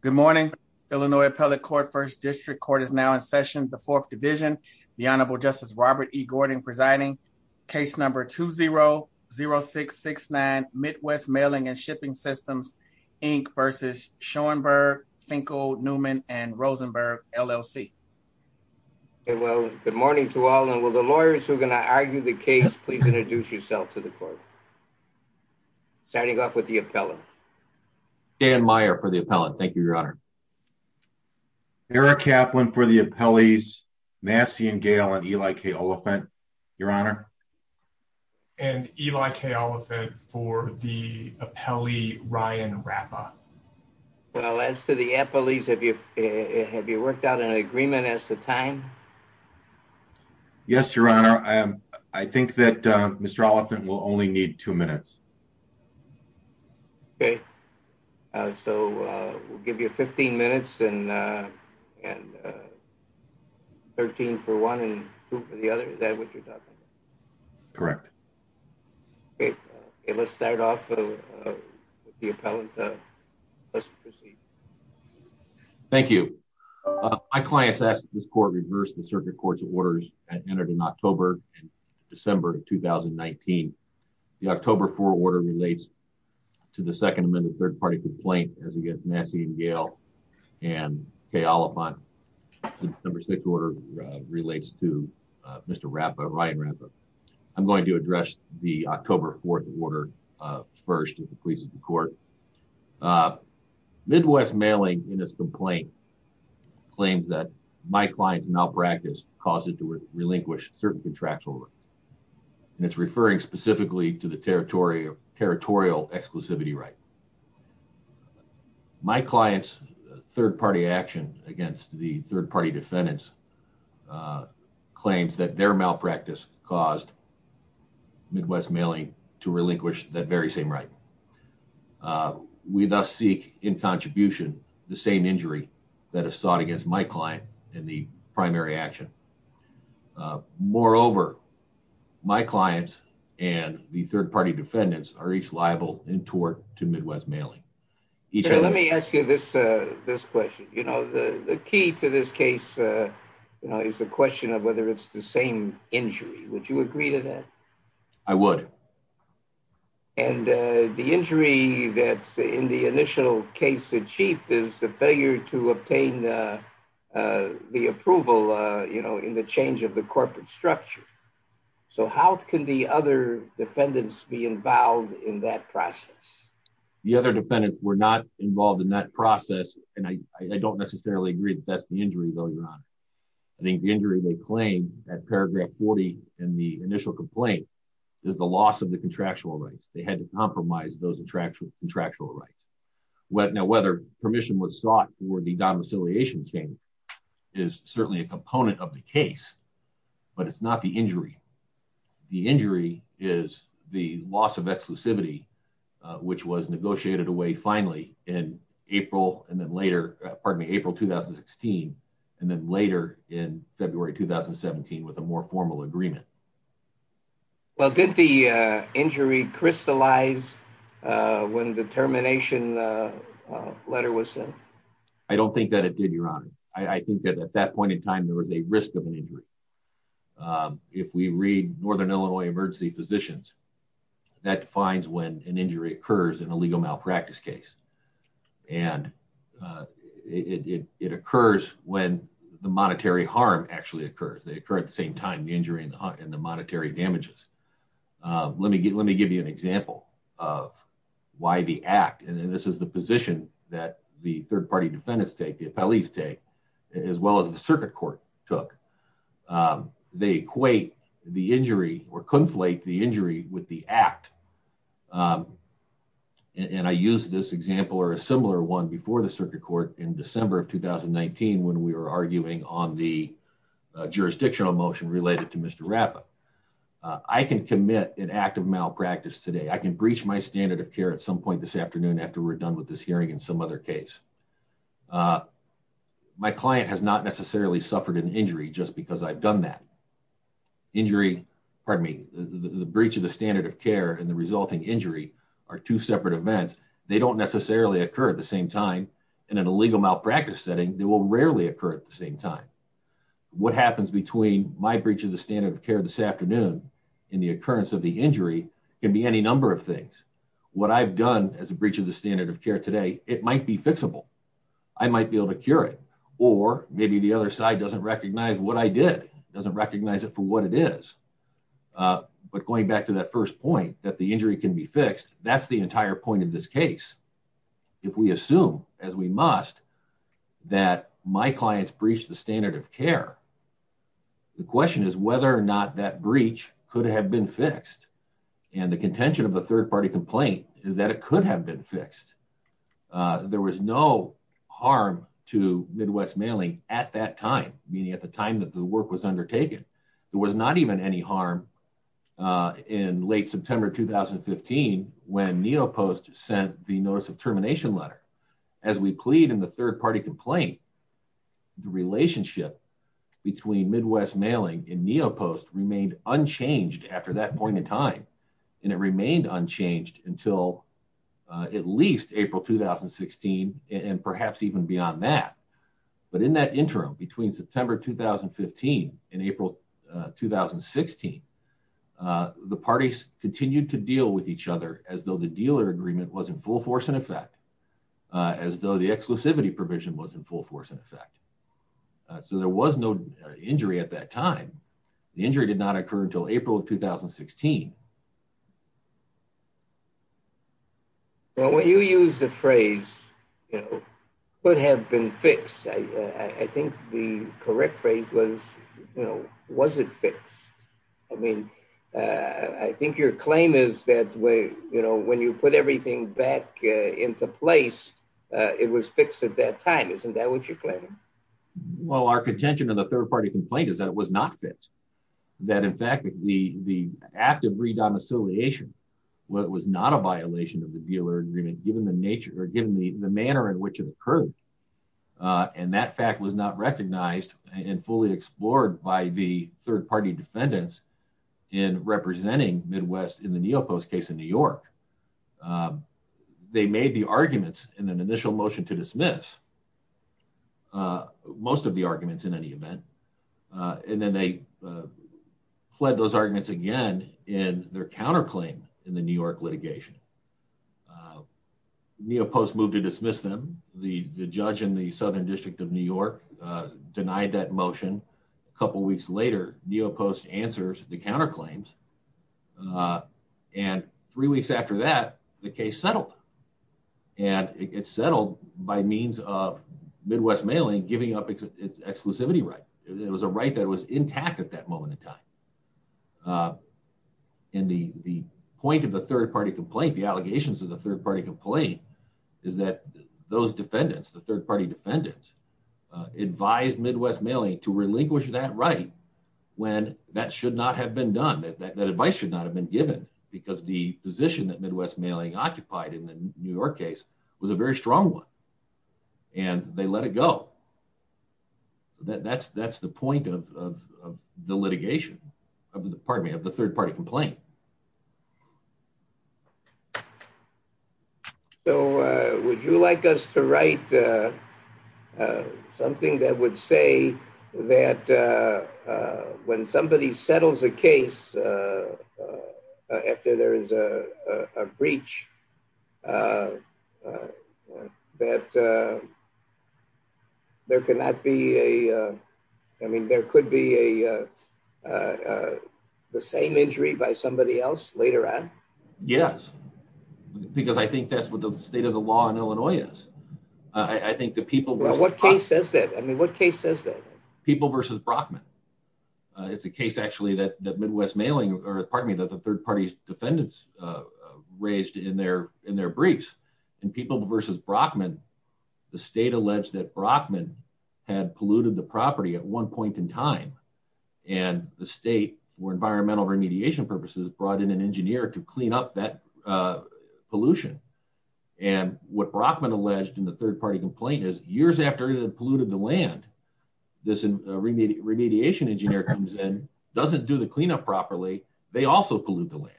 Good morning, Illinois Appellate Court, 1st District Court is now in session, the 4th Division. The Honorable Justice Robert E. Gordon presiding, case number 2-0-0669, Midwest Mailing and Shipping Systems, Inc. v. Schoenberg, Finkel, Newman, and Rosenberg, LLC. Well, good morning to all, and will the lawyers who are going to argue the case please introduce yourself to the court. Starting off with the appellant. Dan Meyer for the appellant, thank you, Your Honor. Eric Kaplan for the appellees, Massey and Gale, and Eli K. Oliphant, Your Honor. And Eli K. Oliphant for the appellee, Ryan Rappa. Well, as to the appellees, have you worked out an agreement as to time? Yes, Your Honor. I think that Mr. Oliphant will only need two minutes. Okay. So, we'll give you 15 minutes and 13 for one and two for the other, is that what you're talking about? Correct. Great. Okay, let's start off with the appellant, let's proceed. Thank you. My client's asked that this court reverse the circuit court's orders that entered in October and December of 2019. The October 4 order relates to the Second Amendment third party complaint as against Massey and Gale, and K. Oliphant, the December 6 order relates to Mr. Rappa, Ryan Rappa. I'm going to address the October 4 order first as it pleases the court. Midwest mailing in this complaint claims that my client's malpractice caused it to relinquish certain contracts over, and it's referring specifically to the territorial exclusivity right. My client's third party action against the third party defendants claims that their malpractice caused Midwest mailing to relinquish that very same right. We thus seek in contribution the same injury that is sought against my client in the primary action. Moreover, my client and the third party defendants are each liable in tort to Midwest mailing. Let me ask you this question, you know, the key to this case is the question of whether it's the same injury, would you agree to that? I would. And the injury that's in the initial case achieved is the failure to obtain the approval, you know, in the change of the corporate structure. So how can the other defendants be involved in that process? The other defendants were not involved in that process, and I don't necessarily agree with that. I think the injury they claim at paragraph 40 in the initial complaint is the loss of the contractual rights. They had to compromise those contractual rights. Now whether permission was sought for the domiciliation change is certainly a component of the case, but it's not the injury. The injury is the loss of exclusivity, which was negotiated away finally in April, and then later in February 2017 with a more formal agreement. Well did the injury crystallize when the termination letter was sent? I don't think that it did, Your Honor. I think that at that point in time there was a risk of an injury. If we read Northern Illinois Emergency Physicians, that defines when an injury occurs in a legal The monetary harm actually occurs. They occur at the same time, the injury and the monetary damages. Let me give you an example of why the act, and this is the position that the third party defendants take, the appellees take, as well as the circuit court took. They equate the injury or conflate the injury with the act, and I use this example or a on the jurisdictional motion related to Mr. Rappaport. I can commit an act of malpractice today. I can breach my standard of care at some point this afternoon after we're done with this hearing in some other case. My client has not necessarily suffered an injury just because I've done that. Injury, pardon me, the breach of the standard of care and the resulting injury are two separate events. They don't necessarily occur at the same time. In an illegal malpractice setting, they will rarely occur at the same time. What happens between my breach of the standard of care this afternoon and the occurrence of the injury can be any number of things. What I've done as a breach of the standard of care today, it might be fixable. I might be able to cure it, or maybe the other side doesn't recognize what I did, doesn't recognize it for what it is, but going back to that first point that the injury can be fixed, that's the entire point of this case. If we assume, as we must, that my clients breached the standard of care, the question is whether or not that breach could have been fixed. The contention of the third-party complaint is that it could have been fixed. There was no harm to Midwest Mailing at that time, meaning at the time that the work was undertaken. There was not even any harm in late September 2015 when Neopost sent the notice of termination letter. As we plead in the third-party complaint, the relationship between Midwest Mailing and Neopost remained unchanged after that point in time, and it remained unchanged until at least April 2016, and perhaps even beyond that. But in that interim, between September 2015 and April 2016, the parties continued to deal with each other as though the dealer agreement was in full force and effect, as though the exclusivity provision was in full force and effect. So there was no injury at that time. The injury did not occur until April of 2016. Well, when you use the phrase, you know, could have been fixed, I think the correct phrase was, you know, was it fixed? I mean, I think your claim is that, you know, when you put everything back into place, it was fixed at that time. Isn't that what you're claiming? Well, our contention in the third-party complaint is that it was not fixed, that, in fact, the act of redomiciliation was not a violation of the dealer agreement, given the nature or given the manner in which it occurred, and that fact was not recognized and fully explored by the third-party defendants in representing Midwest in the Neopost case in New York. They made the arguments in an initial motion to dismiss most of the arguments in any event, and then they fled those arguments again in their counterclaim in the New York litigation. Neopost moved to dismiss them. The judge in the Southern District of New York denied that motion. A couple weeks later, Neopost answers the counterclaims, and three weeks after that, the case settled, and it settled by means of Midwest Mailing giving up its exclusivity right. It was a right that was intact at that moment in time, and the point of the third-party complaint, the allegations of the third-party complaint, is that those defendants, the third-party defendants, advised Midwest Mailing to relinquish that right when that should not have been done, that advice should not have been given, because the position that Midwest Mailing occupied in the New York case was a very strong one, and they let it go. That's the point of the litigation, of the third-party complaint. So, would you like us to write something that would say that when somebody settles a case after there is a breach, that there could be the same injury by somebody else later on? Yes, because I think that's what the state of the law in Illinois is. What case says that? People v. Brockman. It's a case, actually, that Midwest Mailing, or pardon me, that the third-party defendants raised in their briefs. In People v. Brockman, the state alleged that Brockman had polluted the property at one point in time, and the state, for environmental remediation purposes, brought in an engineer to clean up that pollution, and what Brockman alleged in the third-party complaint is, years after it had polluted the land, this remediation engineer comes in, doesn't do the cleanup properly, they also pollute the land,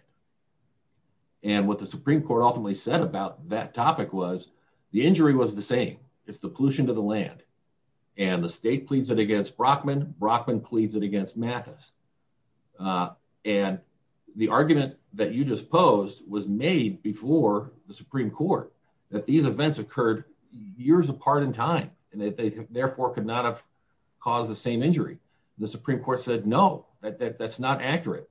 and what the Supreme Court ultimately said about that topic was, the injury was the same, it's the pollution to the land, and the state pleads it against Brockman, Brockman pleads it against Mathis, and the argument that you just posed was made before the Supreme Court, that these events occurred years apart in time, and that they therefore could not have caused the same injury. The Supreme Court said, no, that's not accurate.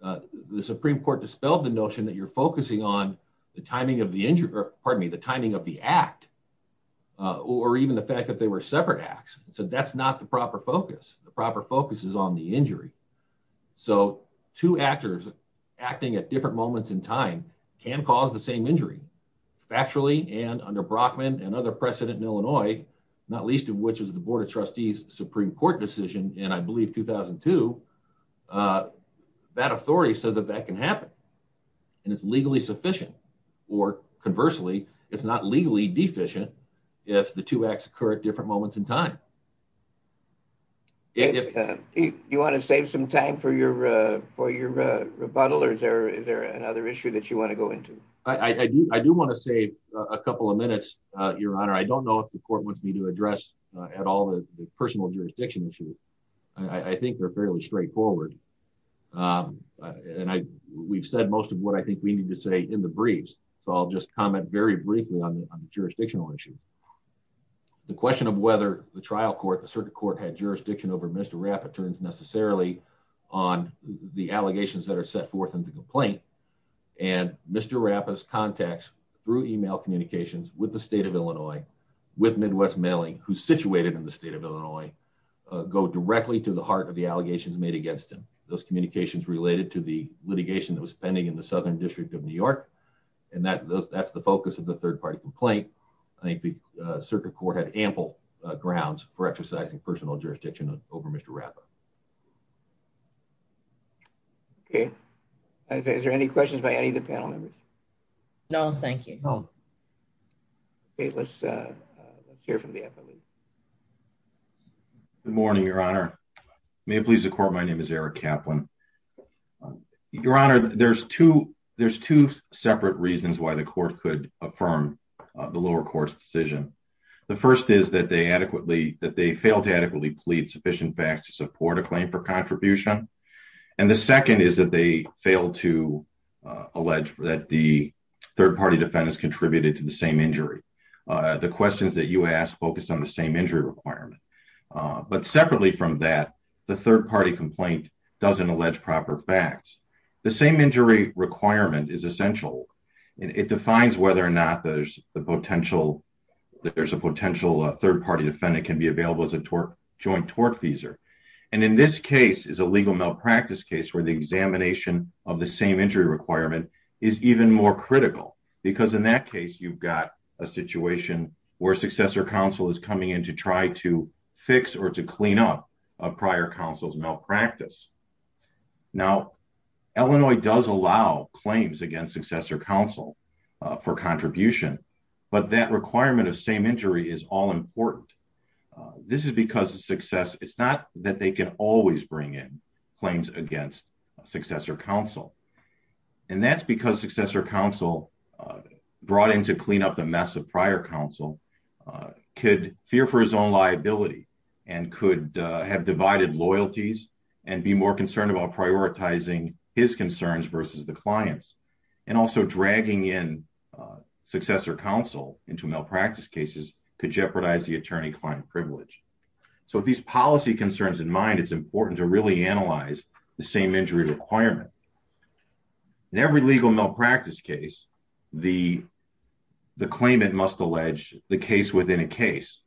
The Supreme Court dispelled the notion that you're focusing on the timing of the injury, or pardon me, the timing of the act, or even the fact that they were separate acts. So that's not the proper focus. The proper focus is on the injury. So, two actors acting at different moments in time can cause the same injury. Factually, and under Brockman and other precedent in Illinois, not least of which is the Board of Trustees Supreme Court decision in, I believe, 2002, that authority says that that can happen, and it's legally sufficient, or conversely, it's not legally deficient if the two acts occur at different moments in time. You want to save some time for your rebuttal, or is there another issue that you want to go into? I do want to save a couple of minutes, Your Honor. I don't know if the court wants me to address at all the personal jurisdiction issue. I think they're fairly straightforward, and we've said most of what I think we need to say in the briefs, so I'll just comment very briefly on the jurisdictional issue. The question of whether the trial court, the circuit court, had jurisdiction over Mr. Rapp, it turns necessarily on the allegations that are set forth in the complaint, and Mr. Rapp's contacts through email communications with the state of Illinois, with Midwest Mailing, who's situated in the state of Illinois, go directly to the heart of the allegations made against him. Those communications related to the litigation that was pending in the Southern District of New York, and that's the focus of the third-party complaint. I think the circuit court had ample grounds for exercising personal jurisdiction over Mr. Rapp. Okay. Is there any questions by any of the panel members? No, thank you. No. Okay, let's hear from the affiliate. Good morning, Your Honor. May it please the court, my name is Eric Kaplan. Your Honor, there's two separate reasons why the court could affirm the lower court's decision. The first is that they adequately, that they failed to adequately plead sufficient facts to support a claim for contribution, and the second is that they failed to allege that the third-party defendants contributed to the same injury. The questions that you asked focused on the same injury requirement, but separately from that, the third-party complaint doesn't allege proper facts. The same injury requirement is essential. It defines whether or not there's a potential third-party defendant can be available as a joint tortfeasor, and in this case is a legal malpractice case where the examination of the same injury requirement is even more critical, because in that case, you've got a situation where successor counsel is coming in to try to fix or to clean up a prior counsel's malpractice. Now, Illinois does allow claims against successor counsel for contribution, but that requirement of same injury is all-important. This is because of success. It's not that they can always bring in claims against successor counsel, and that's because successor counsel brought in to clean up the mess of prior counsel could fear for his own liability and could have divided loyalties and be more concerned about prioritizing his concerns versus the clients, and also dragging in successor counsel into malpractice cases could jeopardize the attorney-client privilege. So with these policy concerns in mind, it's important to really analyze the same injury requirement. In every legal malpractice case, the claimant must allege the case within a case,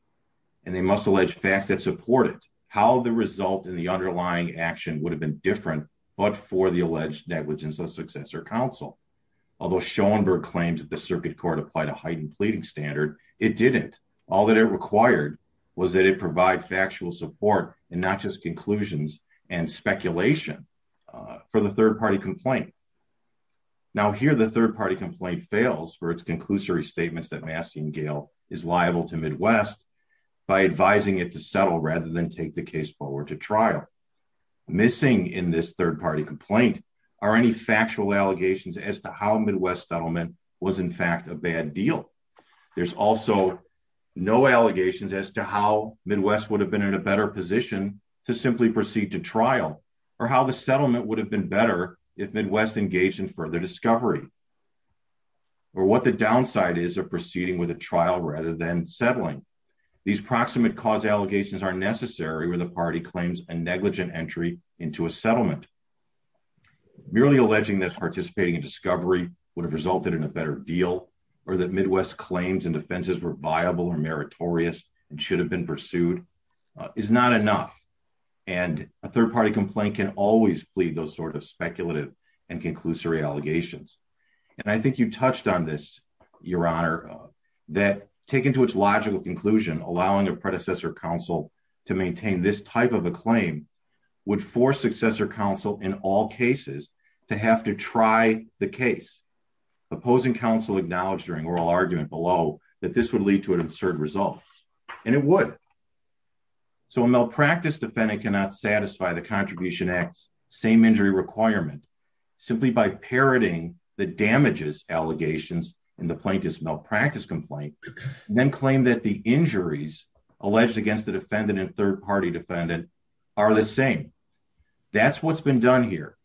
and they must allege facts that support it, how the result in the underlying action would have been different, but for the alleged negligence of successor counsel. Although Schoenberg claims that the circuit court applied a heightened pleading standard, it didn't. In fact, all that it required was that it provide factual support and not just conclusions and speculation for the third-party complaint. Now, here the third-party complaint fails for its conclusory statements that Massey and Gale is liable to Midwest by advising it to settle rather than take the case forward to trial. Missing in this third-party complaint are any factual allegations as to how Midwest settlement was, in fact, a bad deal. There's also no allegations as to how Midwest would have been in a better position to simply proceed to trial or how the settlement would have been better if Midwest engaged in further discovery or what the downside is of proceeding with a trial rather than settling. These proximate cause allegations are necessary where the party claims a negligent entry into a settlement. Merely alleging that participating in discovery would have resulted in a better deal or that Midwest claims and defenses were viable or meritorious and should have been pursued is not enough. And a third-party complaint can always plead those sort of speculative and conclusory allegations. And I think you touched on this, Your Honor, that taken to its logical conclusion, allowing a predecessor counsel to maintain this type of a claim would force successor counsel in all cases to have to try the case. Opposing counsel acknowledged during oral argument below that this would lead to an absurd result, and it would. So a malpractice defendant cannot satisfy the Contribution Act's same injury requirement simply by parroting the damages allegations in the plaintiff's malpractice complaint and then claim that the injuries alleged against the defendant and third-party defendant are the same. That's what's been done here.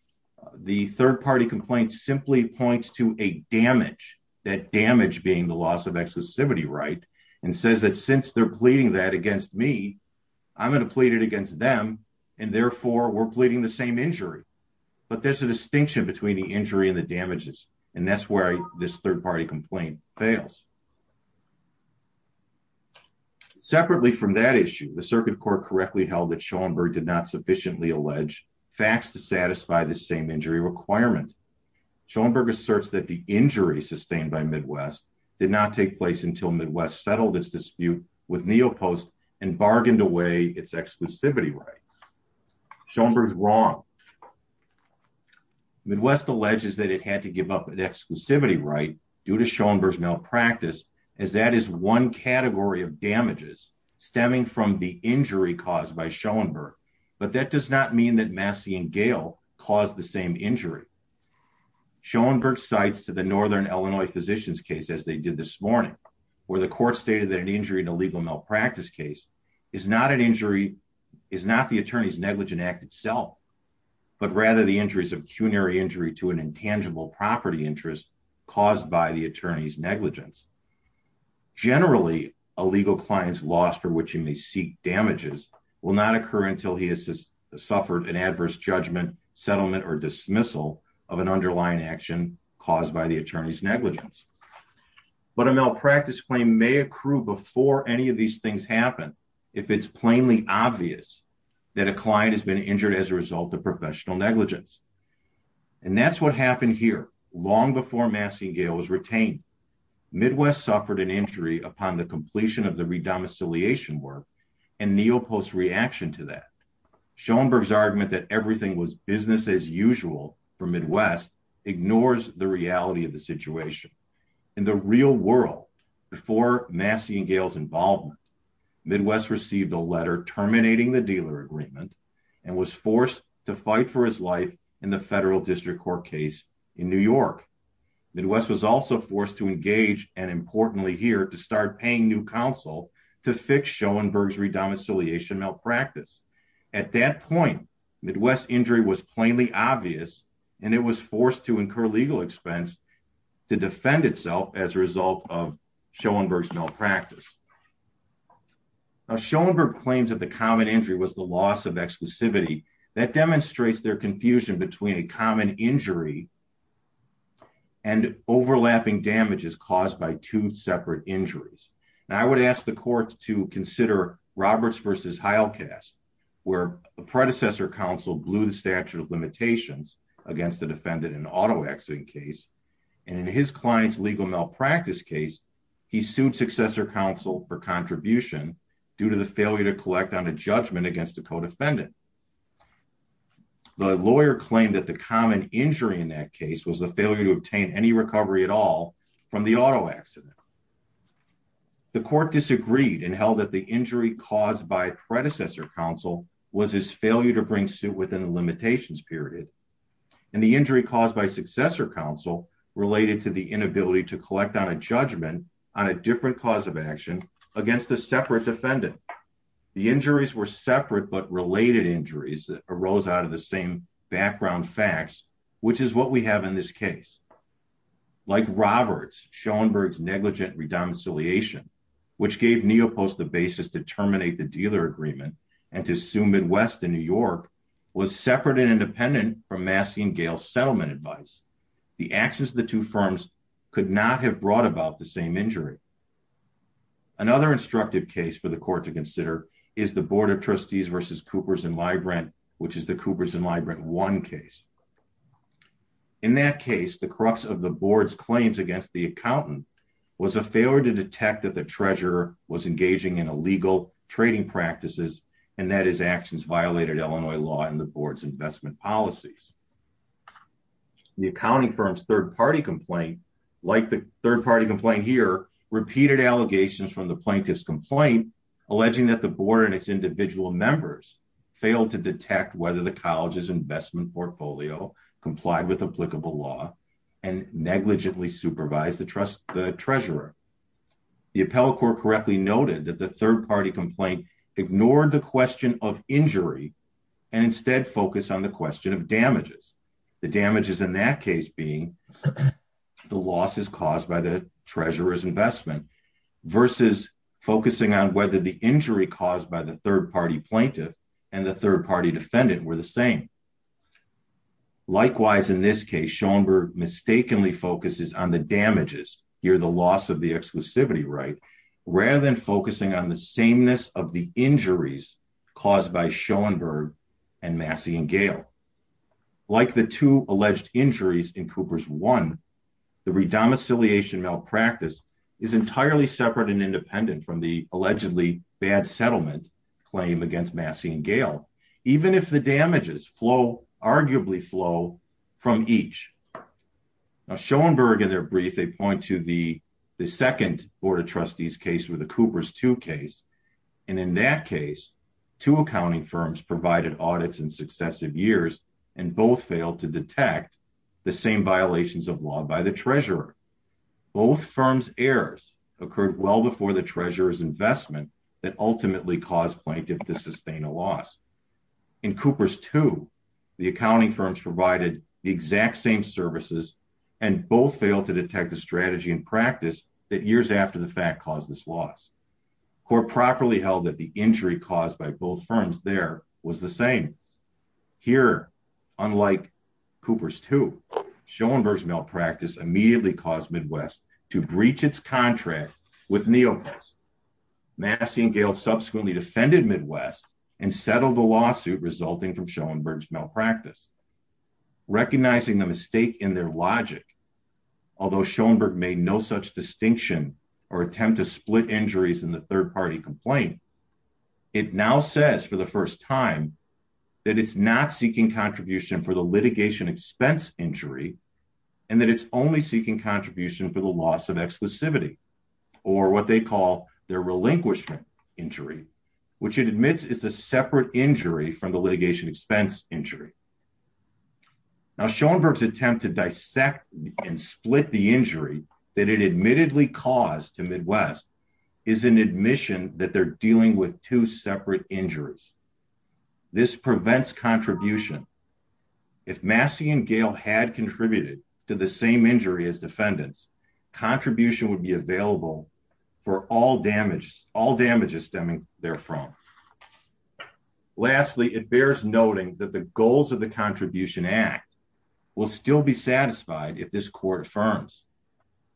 The third-party complaint simply points to a damage, that damage being the loss of exclusivity right, and says that since they're pleading that against me, I'm going to plead it against them, and therefore we're pleading the same injury. But there's a distinction between the injury and the damages, and that's where this third-party complaint fails. Schoenberg did not sufficiently allege facts to satisfy the same injury requirement. Schoenberg asserts that the injury sustained by Midwest did not take place until Midwest settled its dispute with Neopost and bargained away its exclusivity right. Schoenberg is wrong. Midwest alleges that it had to give up an exclusivity right due to Schoenberg's malpractice as that is one category of damages stemming from the injury caused by Schoenberg, but that does not mean that Massey and Gale caused the same injury. Schoenberg cites to the Northern Illinois Physicians case, as they did this morning, where the court stated that an injury in a legal malpractice case is not an injury, is not the attorney's negligent act itself, but rather the injuries of cunary injury to an intangible property interest caused by the attorney's negligence. Generally, a legal client's loss for which he may seek damages will not occur until he has suffered an adverse judgment, settlement, or dismissal of an underlying action caused by the attorney's negligence, but a malpractice claim may accrue before any of these things happen if it's plainly obvious that a client has been injured as a result of professional negligence, and that's what happened here long before Massey and Gale was retained. Midwest suffered an injury upon the completion of the redomicilliation work and Neil Post's reaction to that. Schoenberg's argument that everything was business as usual for Midwest ignores the reality of the situation. In the real world, before Massey and Gale's involvement, Midwest received a letter terminating the dealer agreement and was forced to fight for his life in the federal district court case in New York. Midwest was also forced to engage, and importantly here, to start paying new counsel to fix Schoenberg's redomicilliation malpractice. At that point, Midwest's injury was plainly obvious, and it was forced to incur legal expense to defend itself as a result of Schoenberg's malpractice. Schoenberg claims that the common injury was the loss of exclusivity. That demonstrates their confusion between a common injury and overlapping damages caused by two separate injuries. Now, I would ask the court to consider Roberts versus Heilkast, where the predecessor counsel blew the statute of limitations against the defendant in auto accident case, and in his client's legal malpractice case, he sued successor counsel for contribution due to the failure to collect on a judgment against a co-defendant. The lawyer claimed that the common injury in that case was the failure to obtain any recovery at all from the auto accident. The court disagreed and held that the injury caused by predecessor counsel was his failure to bring suit within the limitations period, and the injury caused by successor counsel related to the inability to collect on a judgment on a different cause of action against a separate defendant. The injuries were separate but related injuries that arose out of the same background facts, which is what we have in this case. Like Roberts, Schoenberg's negligent redomicilliation, which gave Neopost the basis to terminate the dealer agreement and to sue Midwest and New York, was separate and independent from Massey and Gayle's settlement advice. The actions of the two firms could not have brought about the same injury. Another instructive case for the court to consider is the Board of Trustees versus Coopers and Librant, which is the Coopers and Librant 1 case. In that case, the crux of the board's claims against the accountant was a failure to detect that the treasurer was engaging in illegal trading practices, and that his actions violated Illinois law and the board's investment policies. The accounting firm's third-party complaint, like the third-party complaint here, repeated allegations from the plaintiff's complaint alleging that the board and its individual members failed to detect whether the college's investment portfolio complied with applicable law and negligently supervised the treasurer. The appellate court correctly noted that the third-party complaint ignored the question of injury and instead focused on the question of damages, the damages in that case being the losses caused by the treasurer's investment versus focusing on whether the injury caused by the third-party plaintiff and the third-party defendant were the same. Likewise, in this case, Schoenberg mistakenly focuses on the damages, here the loss of the exclusivity right, rather than focusing on the sameness of the injuries caused by Schoenberg and Massey and Gale. Like the two alleged injuries in Coopers 1, the redomicilliation malpractice is entirely separate and independent from the allegedly bad settlement claim against Massey and Gale, even if the damages flow, arguably flow, from each. Now, Schoenberg, in their brief, they point to the second board of trustees case with the Coopers 2 case, and in that case, two accounting firms provided audits in successive years and both failed to detect the same violations of law by the treasurer. Both firms' errors occurred well before the treasurer's investment that ultimately caused plaintiff to sustain a loss. In Coopers 2, the accounting firms provided the exact same services and both failed to detect the strategy and practice that years after the fact caused this loss. Court properly held that the injury caused by both firms there was the same. Here, unlike Coopers 2, Schoenberg's malpractice immediately caused Midwest to breach its contract with Neopost. Massey and Gale subsequently defended Midwest and settled the lawsuit resulting from Schoenberg's malpractice. Recognizing the mistake in their logic, although Schoenberg made no such distinction or attempt to split injuries in the third party complaint, it now says for the first time that it's not seeking contribution for the litigation expense injury and that it's only seeking contribution for the loss of exclusivity, or what they call their relinquishment injury, which it admits is a separate injury from the litigation expense injury. Schoenberg's attempt to dissect and split the injury that it admittedly caused to Midwest is an admission that they're dealing with two separate injuries. This prevents contribution. If Massey and Gale had contributed to the same injury as defendants, contribution would be available for all damages stemming therefrom. Lastly, it bears noting that the goals of the Contribution Act will still be satisfied if this court affirms.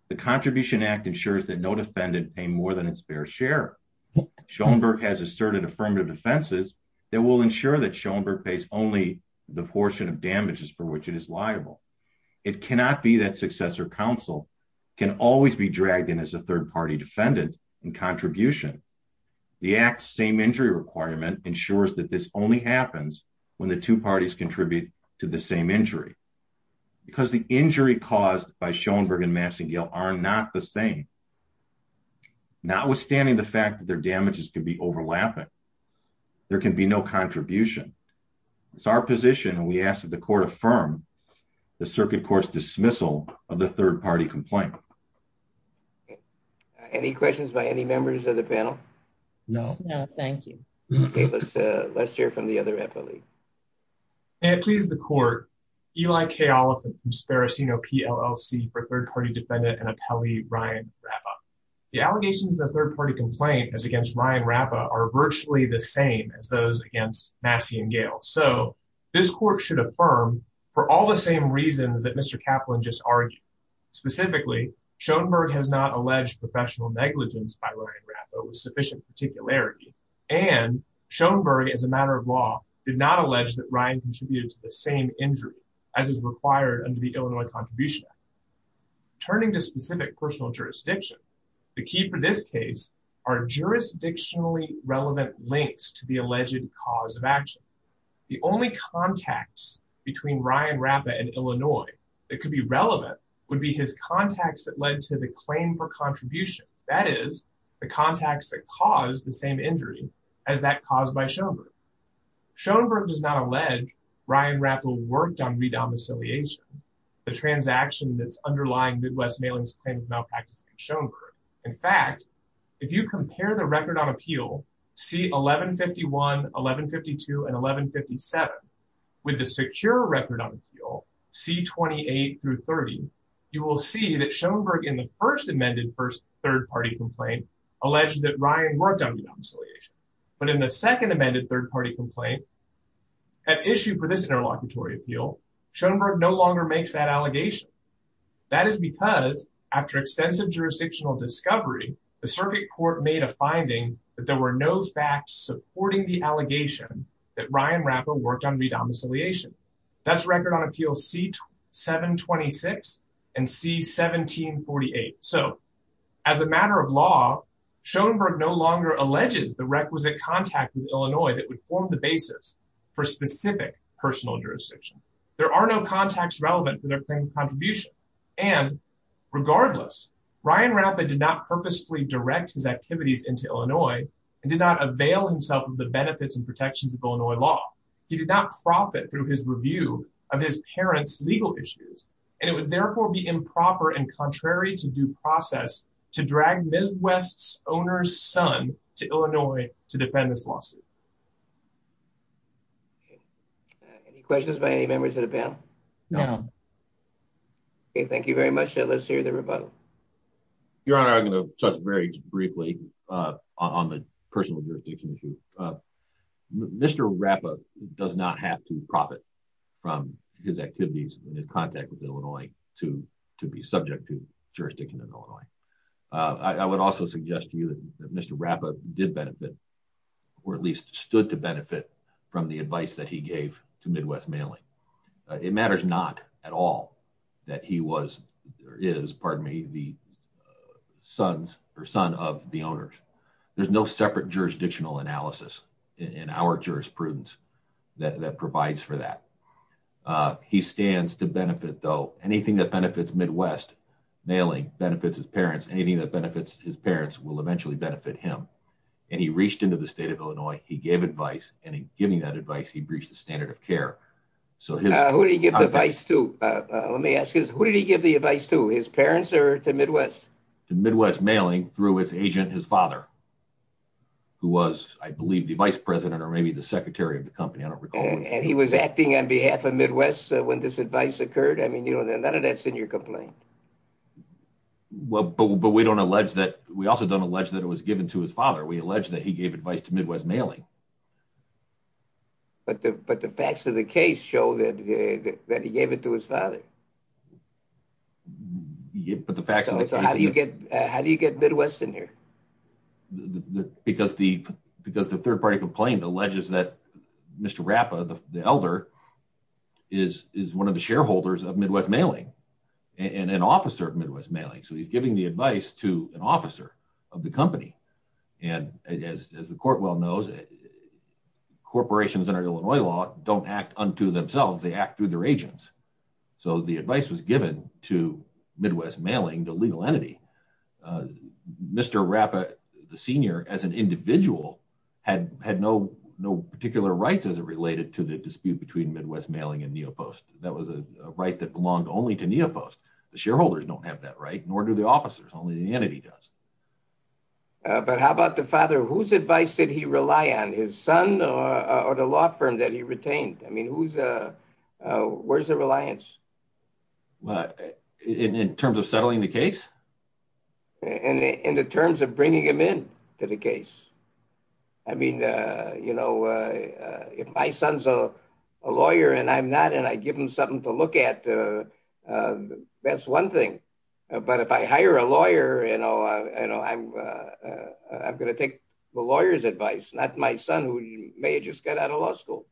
The Contribution Act ensures that no defendant pay more than its fair share. Schoenberg has asserted affirmative defenses that will ensure that Schoenberg pays only the portion of damages for which it is liable. It cannot be that successor counsel can always be dragged in as a third party defendant in contribution. The Act's same injury requirement ensures that this only happens when the two parties contribute to the same injury. Because the injury caused by Schoenberg and Massey and Gale are not the same. Notwithstanding the fact that their damages can be overlapping, there can be no contribution. It's our position, and we ask that the court affirm the circuit court's dismissal of the third party complaint. Any questions by any members of the panel? No. No, thank you. Okay, let's hear from the other appellee. May it please the court. Eli K. Oliphant from Sparacino PLLC for third party defendant and appellee Ryan Rappa. The allegations of the third party complaint as against Ryan Rappa are virtually the same as those against Massey and Gale. So this court should affirm for all the same reasons that Mr. Kaplan just argued. Specifically, Schoenberg has not alleged professional negligence by Ryan Rappa with sufficient particularity. And Schoenberg, as a matter of law, did not allege that Ryan contributed to the same injury as is required under the Illinois Contribution Act. Turning to specific personal jurisdiction, the key for this case are jurisdictionally relevant links to the alleged cause of action. The only contacts between Ryan Rappa and Illinois that could be relevant would be his contacts that led to the claim for contribution. That is, the contacts that caused the same injury as that caused by Schoenberg. Schoenberg does not allege Ryan Rappa worked on redomiciliation, the transaction that's underlying Midwest Mailing's claim of malpractice against Schoenberg. In fact, if you compare the record on appeal, C-1151, 1152, and 1157, with the secure record on appeal, C-28 through 30, you will see that Schoenberg in the first amended first third party complaint alleged that Ryan worked on redomiciliation. But in the second amended third party complaint, an issue for this interlocutory appeal, Schoenberg no longer makes that allegation. That is because after extensive jurisdictional discovery, the circuit court made a finding that there were no facts supporting the allegation that Ryan Rappa worked on redomiciliation. That's record on appeal C-726 and C-1748. So, as a matter of law, Schoenberg no longer alleges the requisite contact with Illinois that would form the basis for specific personal jurisdiction. There are no contacts relevant for their claim of contribution. And regardless, Ryan Rappa did not purposefully direct his activities into Illinois and did not avail himself of the benefits and protections of Illinois law. He did not profit through his review of his parents' legal issues, and it would therefore be improper and contrary to due process to drag Midwest's owner's son to Illinois to defend this lawsuit. Any questions by any members of the panel? No. Okay, thank you very much. Let's hear the rebuttal. Your Honor, I'm going to touch very briefly on the personal jurisdiction issue. Mr. Rappa does not have to profit from his activities and his contact with Illinois to be subject to jurisdiction in Illinois. I would also suggest to you that Mr. Rappa did benefit, or at least stood to benefit, from the advice that he gave to Midwest Mailing. It matters not at all that he is the son of the owners. There's no separate jurisdictional analysis in our jurisprudence that provides for that. He stands to benefit, though. Anything that benefits Midwest Mailing benefits his parents. Anything that benefits his parents will eventually benefit him. And he reached into the state of Illinois. He gave advice, and in giving that advice, he breached the standard of care. Who did he give the advice to? Let me ask you this. Who did he give the advice to, his parents or to Midwest? To Midwest Mailing through his agent, his father, who was, I believe, the vice president or maybe the secretary of the company. I don't recall. And he was acting on behalf of Midwest when this advice occurred? I mean, none of that's in your complaint. But we also don't allege that it was given to his father. We allege that he gave advice to Midwest Mailing. But the facts of the case show that he gave it to his father. So how do you get Midwest in here? Because the third-party complaint alleges that Mr. Rappa, the elder, is one of the shareholders of Midwest Mailing and an officer of Midwest Mailing. So he's giving the advice to an officer of the company. And as the court well knows, corporations under Illinois law don't act unto themselves. They act through their agents. So the advice was given to Midwest Mailing, the legal entity. Mr. Rappa, the senior, as an individual, had no particular rights as it related to the dispute between Midwest Mailing and Neopost. That was a right that belonged only to Neopost. The shareholders don't have that right, nor do the officers. Only the entity does. But how about the father? Whose advice did he rely on, his son or the law firm that he retained? I mean, where's the reliance? In terms of settling the case? In the terms of bringing him in to the case. I mean, you know, if my son's a lawyer and I'm not and I give him something to look at, that's one thing. But if I hire a lawyer, you know, I'm going to take the lawyer's advice, not my son, who may have just got out of law school.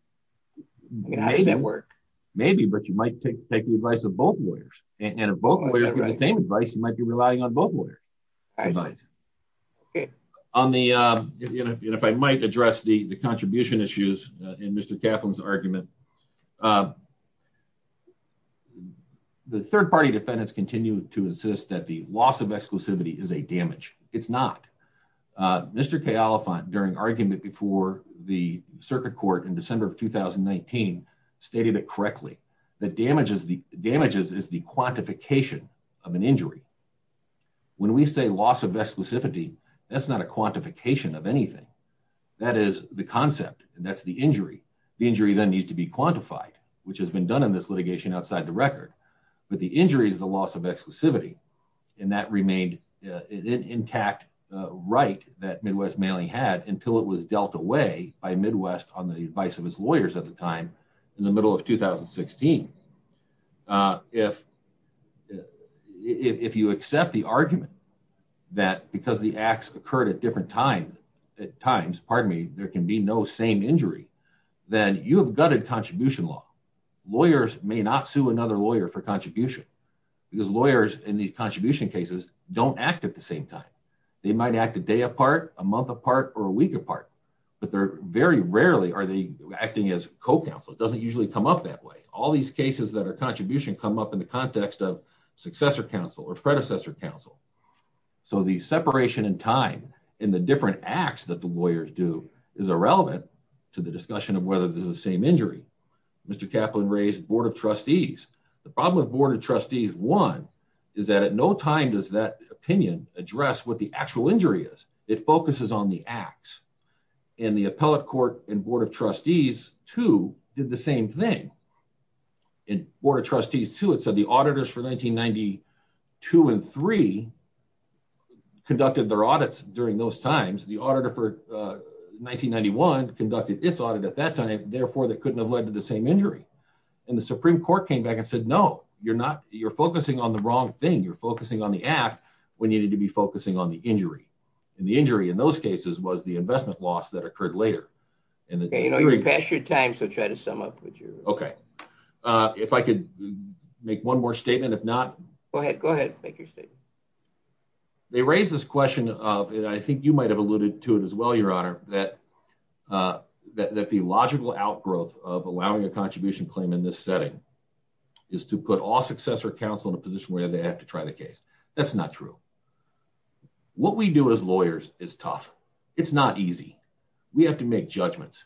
How does that work? Maybe, but you might take the advice of both lawyers. And if both lawyers give the same advice, you might be relying on both lawyers. If I might address the contribution issues in Mr. Kaplan's argument. The third party defendants continue to insist that the loss of exclusivity is a damage. It's not. Mr. Kaplan, during argument before the circuit court in December of 2019, stated it correctly. The damages is the quantification of an injury. When we say loss of exclusivity, that's not a quantification of anything. That is the concept. That's the injury. The injury then needs to be quantified, which has been done in this litigation outside the record. But the injury is the loss of exclusivity. And that remained an intact right that Midwest Mailing had until it was dealt away by Midwest on the advice of his lawyers at the time in the middle of 2016. If you accept the argument that because the acts occurred at different times, at times, pardon me, there can be no same injury, then you have gutted contribution law. Lawyers may not sue another lawyer for contribution. Because lawyers in these contribution cases don't act at the same time. They might act a day apart, a month apart, or a week apart. But they're very rarely are they acting as co-counsel. It doesn't usually come up that way. All these cases that are contribution come up in the context of successor counsel or predecessor counsel. So the separation in time in the different acts that the lawyers do is irrelevant to the discussion of whether this is the same injury. Mr. Kaplan raised Board of Trustees. The problem with Board of Trustees, one, is that at no time does that opinion address what the actual injury is. It focuses on the acts. And the appellate court and Board of Trustees, two, did the same thing. And Board of Trustees, two, it said the auditors for 1992 and three conducted their audits during those times. The auditor for 1991 conducted its audit at that time. Therefore, they couldn't have led to the same injury. And the Supreme Court came back and said, no, you're focusing on the wrong thing. You're focusing on the act. We needed to be focusing on the injury. And the injury in those cases was the investment loss that occurred later. You know, you're past your time, so try to sum up. Okay. If I could make one more statement, if not. Go ahead. Go ahead. Make your statement. They raised this question of, and I think you might have alluded to it as well, Your Honor, that the logical outgrowth of allowing a contribution claim in this setting is to put all successor counsel in a position where they have to try the case. That's not true. What we do as lawyers is tough. It's not easy. We have to make judgments.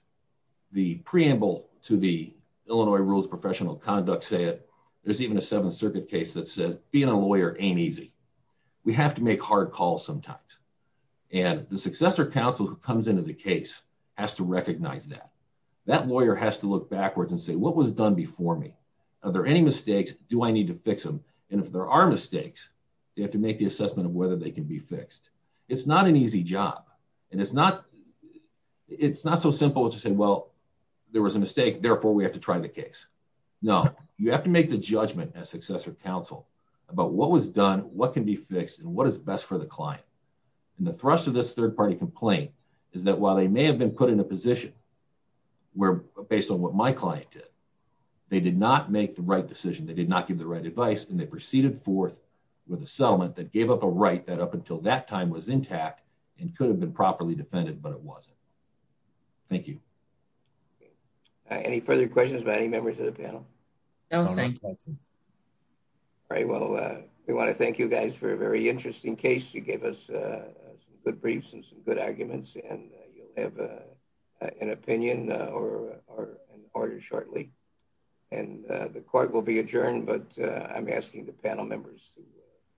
The preamble to the Illinois Rules of Professional Conduct say it. There's even a Seventh Circuit case that says being a lawyer ain't easy. We have to make hard calls sometimes. And the successor counsel who comes into the case has to recognize that. That lawyer has to look backwards and say, what was done before me? Are there any mistakes? Do I need to fix them? And if there are mistakes, they have to make the assessment of whether they can be fixed. It's not an easy job. And it's not so simple as to say, well, there was a mistake, therefore we have to try the case. No. You have to make the judgment as successor counsel about what was done, what can be fixed, and what is best for the client. And the thrust of this third-party complaint is that while they may have been put in a position where, based on what my client did, they did not make the right decision. They did not give the right advice, and they proceeded forth with a settlement that gave up a right that up until that time was intact and could have been properly defended, but it wasn't. Thank you. Any further questions by any members of the panel? No, thank you. All right. Well, we want to thank you guys for a very interesting case. You gave us some good briefs and some good arguments, and you'll have an opinion or an order shortly. And the court will be adjourned, but I'm asking the panel members to...